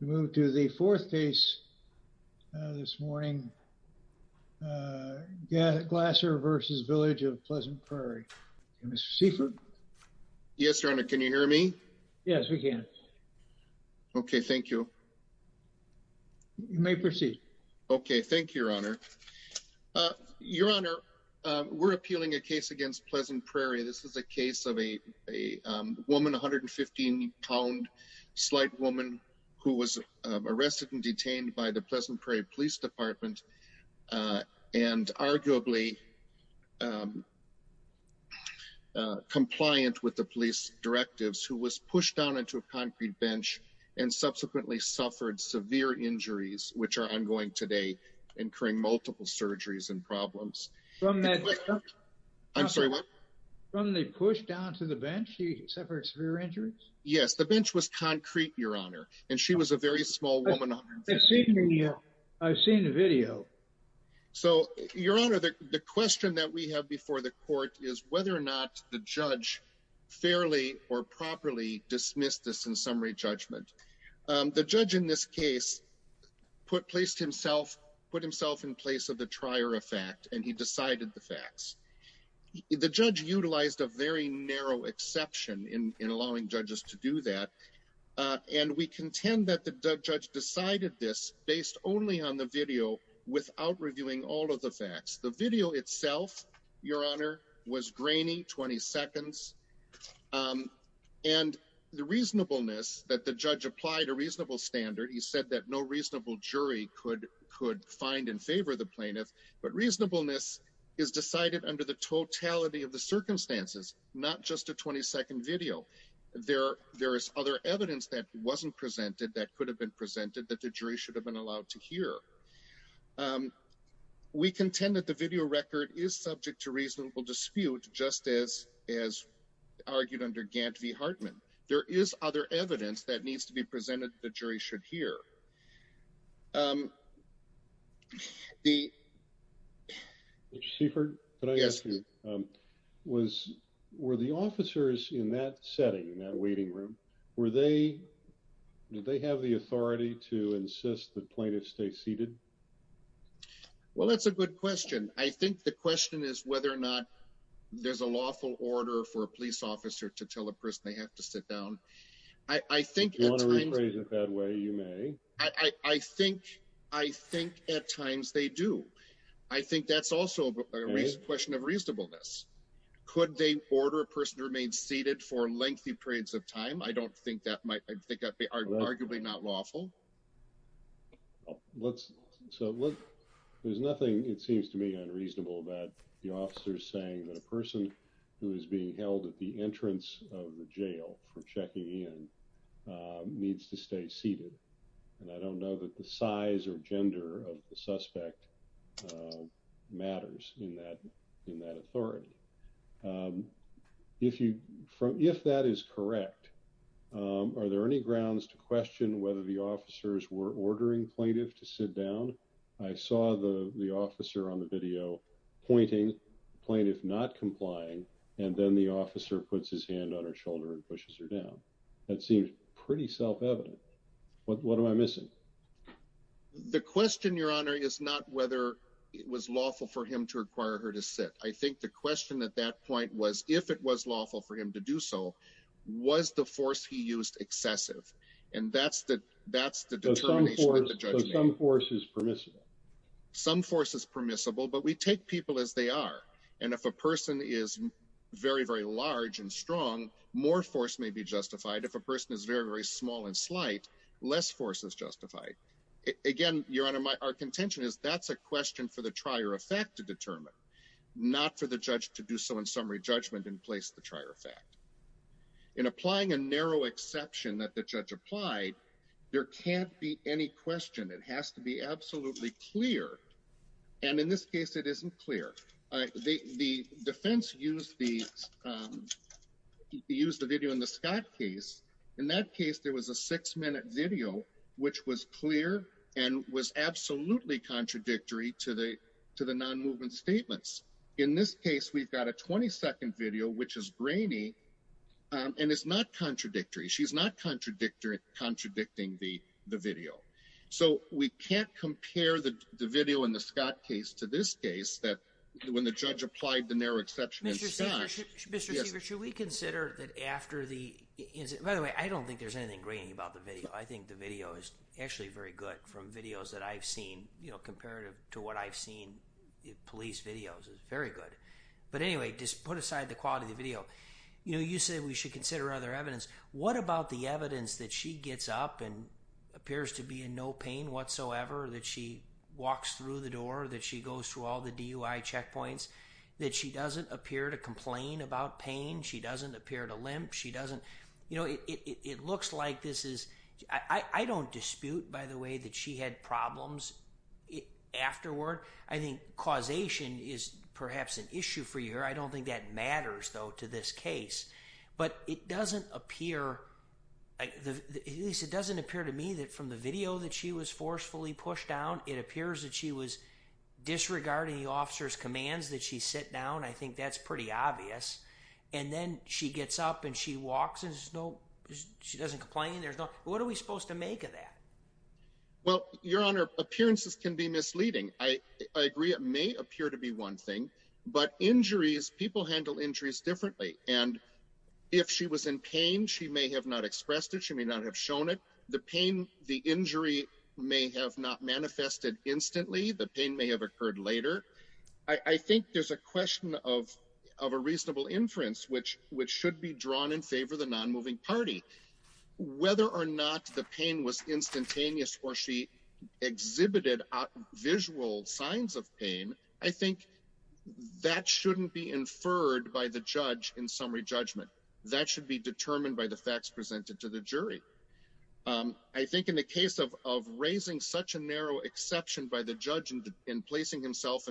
We move to the fourth case this morning. Gasser v. Village of Pleasant Prairie. Mr. Seifert. Yes, Your Honor. Can you hear me? Yes, we can. Okay. Thank you. You may proceed. Okay. Thank you, Your Honor. Your Honor, we're appealing a case against Pleasant Prairie. This is a case of a woman, 115-pound, slight woman, who was arrested and detained by the Pleasant Prairie Police Department and arguably compliant with the police directives, who was pushed down into a concrete bench and subsequently suffered severe injuries, which are ongoing today, incurring multiple surgeries and problems. I'm sorry, what? When they pushed down to the bench, she suffered severe injuries? Yes, the bench was concrete, Your Honor, and she was a very small woman. I've seen the video. So, Your Honor, the question that we have before the court is whether or not the judge fairly or properly dismissed this in summary judgment. The judge in this case put himself in place of the trier of fact, and he decided the facts. The judge utilized a very narrow exception in allowing judges to do that, and we contend that the judge decided this based only on the video without reviewing all of the facts. The video itself, Your Honor, was grainy, 20 seconds, and the reasonableness that the judge applied a reasonable standard, he said that no reasonable under the totality of the circumstances, not just a 20-second video. There is other evidence that wasn't presented that could have been presented that the jury should have been allowed to hear. We contend that the video record is subject to reasonable dispute, just as argued under Gant v. Hartman. There is other evidence that needs to be presented the jury should hear. Mr. Seifert, could I ask you, were the officers in that setting, in that waiting room, did they have the authority to insist that plaintiffs stay seated? Well, that's a good question. I think the question is whether or not there's a lawful order for a police officer to tell a person they have to sit down. Do you want to rephrase it that way? You may. I think at times they do. I think that's also a question of reasonableness. Could they order a person to remain seated for lengthy periods of time? I think that might be arguably not lawful. There's nothing, it seems to me, unreasonable about the officers saying that a person who is being held at the entrance of the inn needs to stay seated. And I don't know that the size or gender of the suspect matters in that authority. If that is correct, are there any grounds to question whether the officers were ordering plaintiffs to sit down? I saw the officer on the video pointing, plaintiff not complying, and then the officer puts his hand on her shoulder and pushes her down. That seems pretty self-evident. What am I missing? The question, Your Honor, is not whether it was lawful for him to require her to sit. I think the question at that point was if it was lawful for him to do so, was the force he used excessive? And that's the determination of the judgment. So some force is permissible. Some force is permissible, but we take people as they are. And if a person is very, very large and if a person is very, very small and slight, less force is justified. Again, Your Honor, our contention is that's a question for the trier of fact to determine, not for the judge to do so in summary judgment and place the trier of fact. In applying a narrow exception that the judge applied, there can't be any question. It has to be absolutely clear. And in this case, it isn't clear. The defense used the video in the Scott case. In that case, there was a six-minute video, which was clear and was absolutely contradictory to the non-movement statements. In this case, we've got a 20-second video, which is grainy, and it's not contradictory. She's not contradicting the video. So we can't compare the video in the Scott case to this case that when the judge applied the narrow exception in Scott. Mr. Siever, should we consider that after the... By the way, I don't think there's anything grainy about the video. I think the video is actually very good from videos that I've seen, you know, comparative to what I've seen in police videos. It's very good. But anyway, just put aside the quality of the video. You know, you said we should consider other evidence. What about the evidence that she gets up and appears to be in no pain whatsoever, that she walks through the door, that she goes through all the DUI checkpoints, that she doesn't appear to complain about pain, she doesn't appear to limp, she doesn't... You know, it looks like this is... I don't dispute, by the way, that she had problems afterward. I think causation is perhaps an issue for you. I don't think that matters, though, to this case. But it doesn't appear... At least it doesn't appear to me that from the it appears that she was disregarding the officer's commands, that she sat down. I think that's pretty obvious. And then she gets up and she walks and there's no... She doesn't complain. There's no... What are we supposed to make of that? Well, Your Honor, appearances can be misleading. I agree. It may appear to be one thing, but injuries... People handle injuries differently. And if she was in pain, she may have not expressed it. She may not have shown it. The pain, the injury may have not manifested instantly. The pain may have occurred later. I think there's a question of a reasonable inference, which should be drawn in favor of the non-moving party. Whether or not the pain was instantaneous or she exhibited visual signs of pain, I think that shouldn't be inferred by the judge in summary judgment. That should be determined by the facts presented to the jury. I think in the case of raising such a narrow exception by the judge in placing himself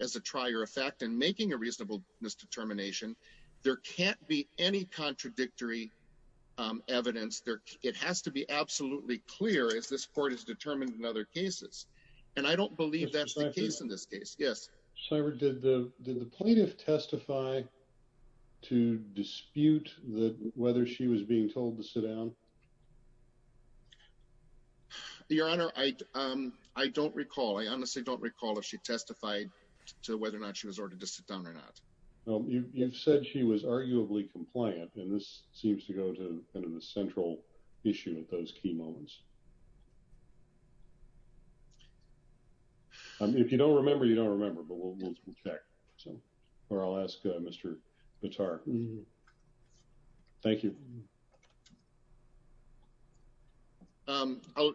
as a trier of fact and making a reasonable misdetermination, there can't be any contradictory evidence. It has to be absolutely clear, as this court has determined in other cases. And I don't believe that's the case in this case. Yes? Cybert, did the plaintiff testify to dispute whether she was being told to sit down? Your Honor, I don't recall. I honestly don't recall if she testified to whether or not she was ordered to sit down or not. You've said she was arguably compliant, and this seems to go to the central issue at those key moments. If you don't remember, you don't remember, but we'll check. Or I'll ask Mr. Bitar. Thank you. I'll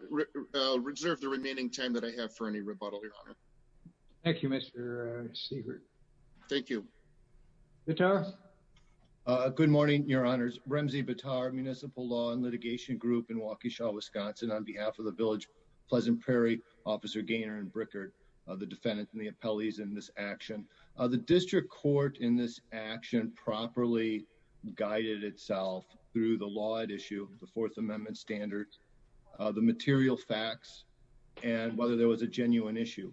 reserve the remaining time that I have for any rebuttal, Your Honor. Thank you, Mr. Cybert. Thank you. Bitar? Good morning, Your Honors. Remzi Bitar, Municipal Law and Litigation Group in Waukesha, Wisconsin. On behalf of the Village Pleasant Prairie, Officer Gaynor and Brickard, the defendant and the appellees in this action, the district court in this action properly guided itself through the law at issue, the Fourth Amendment standards, the material facts, and whether there was a genuine issue.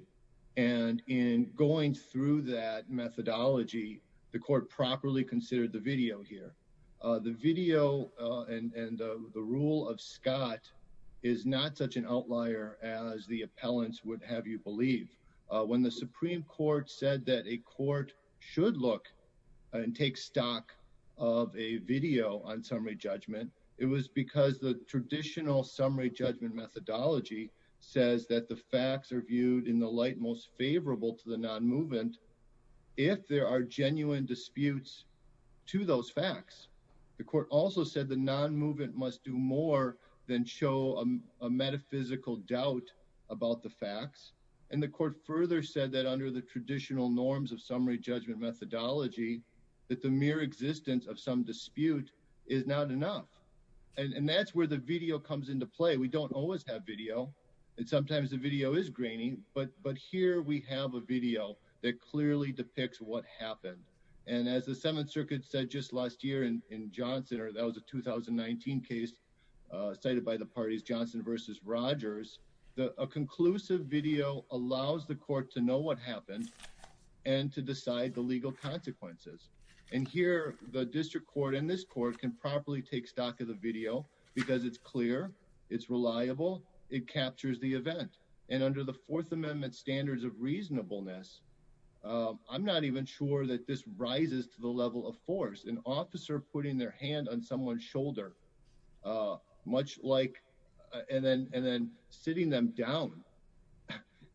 And in going through that methodology, the court properly considered the video here. The video and the rule of Scott is not such an outlier as the appellants would have you believe. When the Supreme Court said that a court should look and take stock of a video on summary judgment, it was because the traditional summary judgment methodology says that the facts are viewed in the most favorable to the non-movement if there are genuine disputes to those facts. The court also said the non-movement must do more than show a metaphysical doubt about the facts. And the court further said that under the traditional norms of summary judgment methodology, that the mere existence of some dispute is not enough. And that's where the video comes into play. We don't always have video, and sometimes the video is grainy, but here we have a video that clearly depicts what happened. And as the Seventh Circuit said just last year in Johnson, or that was a 2019 case cited by the parties Johnson versus Rogers, that a conclusive video allows the court to know what happened and to decide the legal consequences. And here, the district court and this court can properly take stock of the video because it's clear, it's reliable, it captures the event. And under the Fourth Amendment standards of reasonableness, I'm not even sure that this rises to the level of force. An officer putting their hand on someone's shoulder, much like, and then sitting them down,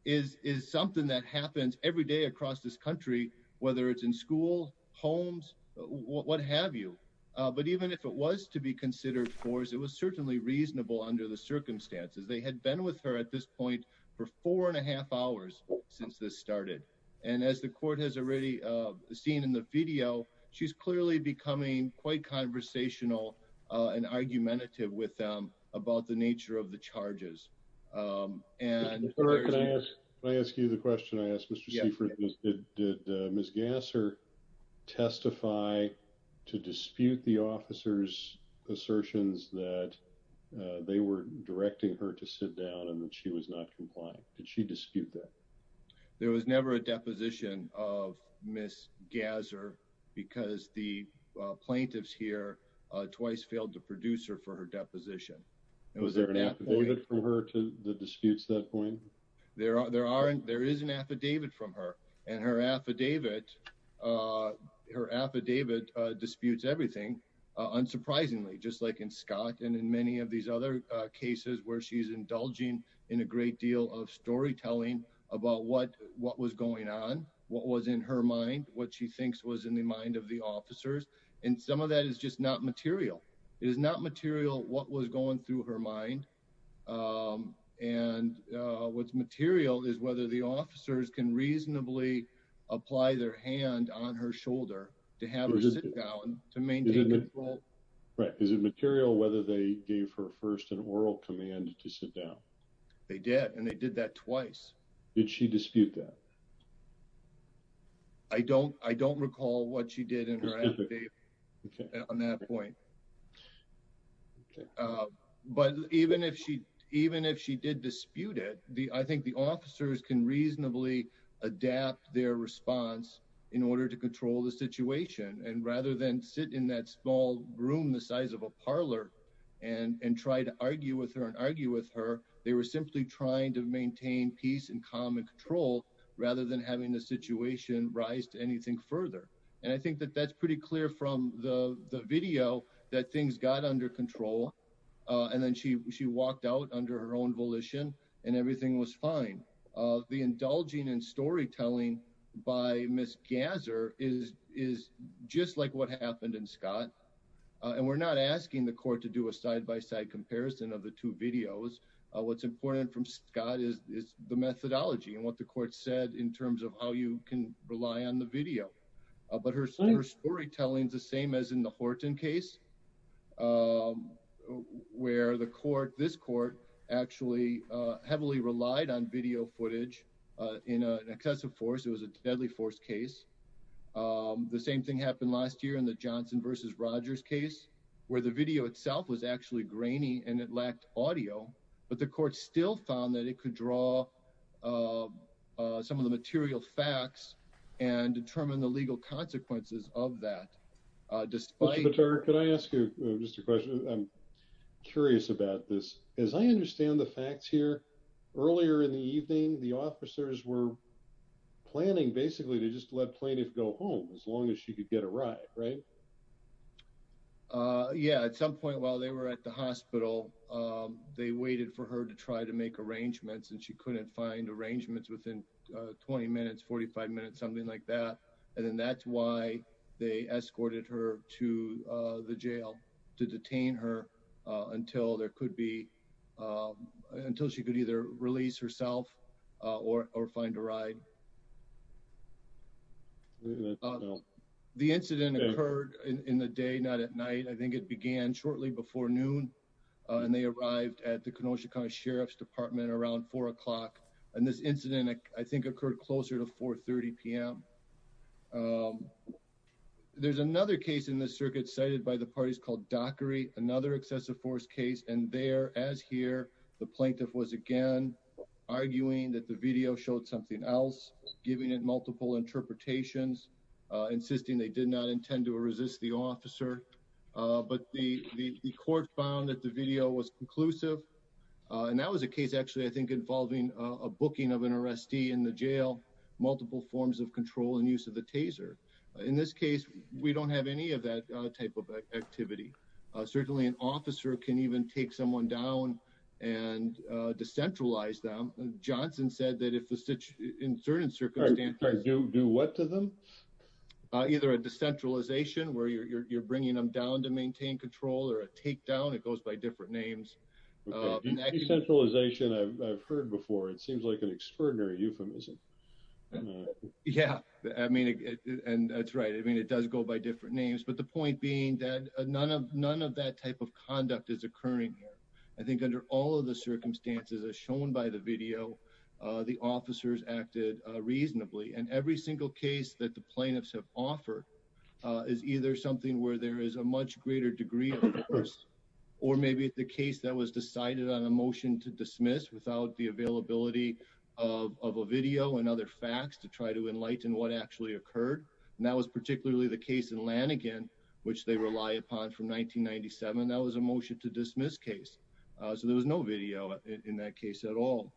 is something that happens every day across this country, whether it's in school, homes, what have you. But even if it was to be considered force, it was certainly reasonable under the circumstances. They had been with her at this point for four and a half hours since this started. And as the court has already seen in the video, she's clearly becoming quite conversational and argumentative with them about the nature of the case. And Ms. Gasser testify to dispute the officer's assertions that they were directing her to sit down and that she was not complying. Did she dispute that? There was never a deposition of Ms. Gasser because the plaintiffs here twice failed to produce her for her deposition. Was there an affidavit from her to the disputes at that point? There is an affidavit from her, and her affidavit disputes everything, unsurprisingly, just like in Scott and in many of these other cases where she's indulging in a great deal of storytelling about what was going on, what was in her mind, what she thinks was in the mind of the officers. And some of that is just not material. It is not material what was going through her mind. And what's material is whether the officers can reasonably apply their hand on her shoulder to have her sit down to maintain control. Right. Is it material whether they gave her first an oral command to sit down? They did, and they did that twice. Did she dispute that? I don't recall what she did in her affidavit on that point. Okay. But even if she did dispute it, I think the officers can reasonably adapt their response in order to control the situation. And rather than sit in that small room the size of a parlor and try to argue with her and argue with her, they were simply trying to maintain peace and calm and control rather than having the situation rise to anything further. And I think that that's pretty clear from the video that things got under control. And then she walked out under her own volition and everything was fine. The indulging in storytelling by Ms. Gasser is just like what happened in Scott. And we're not asking the court to do a side-by-side comparison of the two videos. What's important from Scott is the methodology and what the court said in terms of how you can do that. The storytelling is the same as in the Horton case, where this court actually heavily relied on video footage in an excessive force. It was a deadly force case. The same thing happened last year in the Johnson versus Rogers case, where the video itself was actually grainy and it lacked audio, but the court still found that it could draw some of the material facts and determine the legal consequences of that. Mr. Vetter, could I ask you just a question? I'm curious about this. As I understand the facts here, earlier in the evening, the officers were planning basically to just let plaintiff go home as long as she could get a ride, right? Yeah, at some point while they were at the hospital, they waited for her to try to make arrangements and she couldn't find arrangements within 20 minutes, 45 minutes, something like that, and then that's why they escorted her to the jail to detain her until she could either release herself or find a ride. The incident occurred in the day, not at night. I think it began shortly before noon and they arrived at the Kenosha County Sheriff's Department around four o'clock, and this incident, I think, occurred closer to 4 30 p.m. There's another case in the circuit cited by the parties called Dockery, another excessive force case, and there, as here, the plaintiff was again arguing that the video showed something else, giving it multiple interpretations, insisting they did not intend to resist the officer, but the court found that the video was conclusive, and that was a case actually, I think, involving a booking of an arrestee in the jail, multiple forms of control and use of the taser. In this case, we don't have any of that type of activity. Certainly, an officer can even take someone down and decentralize them. Johnson said that if the situation, in certain circumstances, do what to them? Either a decentralization, where you're bringing them down to maintain control, or a takedown, it goes by different names. Decentralization, I've heard before, it seems like an extraordinary euphemism. Yeah, I mean, and that's right, I mean, it does go by different names, but the point being that none of that type of conduct is occurring here. I think under all of the circumstances as shown by the video, the officers acted reasonably, and every single case that the plaintiffs have offered is either something where there is a much greater degree of force, or maybe the case that was decided on a motion to dismiss without the availability of a video and other facts to try to enlighten what actually occurred, and that was particularly the case in Lanigan, which they rely upon from 1997. That was a motion to dismiss case, so there was no video in that case at all,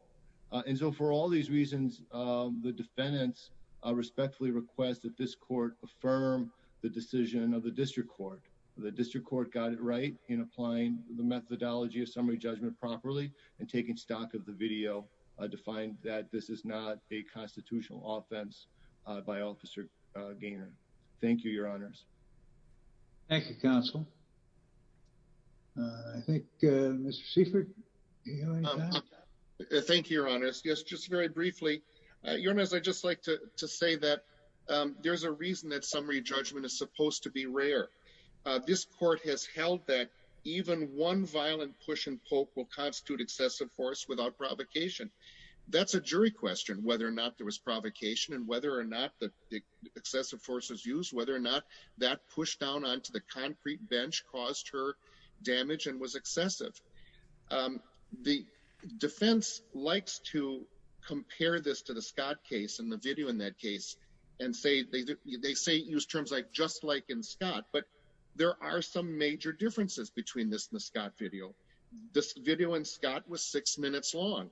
and so for all these reasons, the defendants respectfully request that this court affirm the decision of the district court. The district court got it right in applying the methodology of summary judgment properly, and taking stock of the video to find that this is not a constitutional offense by Officer Gaynor. Thank you, your honors. Thank you, counsel. I think, Mr. Seifert, do you have any comments? Thank you, your honors. Yes, just very briefly. Your honors, I'd just like to say that there's a reason that summary judgment is supposed to be rare. This court has held that even one violent push and poke will constitute excessive force without provocation. That's a jury question, whether or not there was provocation, and whether or not the excessive force was used, whether or not that push down onto the concrete bench caused her damage and was excessive. The defense likes to compare this to the Scott case and the video in that case, and they say use terms like just like in Scott, but there are some major differences between this and the Scott video. This video in Scott was six minutes long.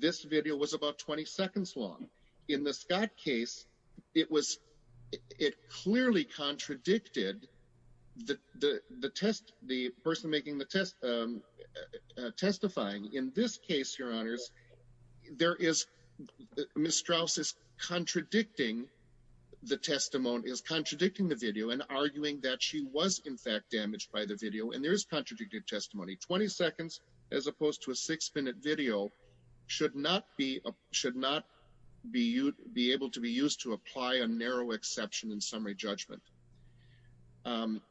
This video was about 20 seconds long. In the Scott case, it clearly contradicted the person making the testifying. In this case, your honors, Ms. Straus is contradicting the video and arguing that she was, in fact, damaged by the video, and there is contradicted testimony. 20 seconds, as opposed to a six-minute video, should not be able to be used to apply a narrow exception in summary judgment.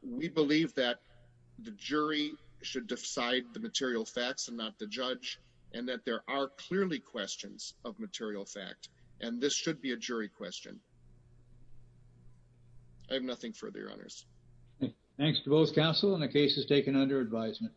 We believe that the jury should decide the material facts and not the judge, and that there are clearly questions of material fact, and this should be a jury question. I have nothing further, your honors. Thanks to both counsel, and the case is taken under advisement.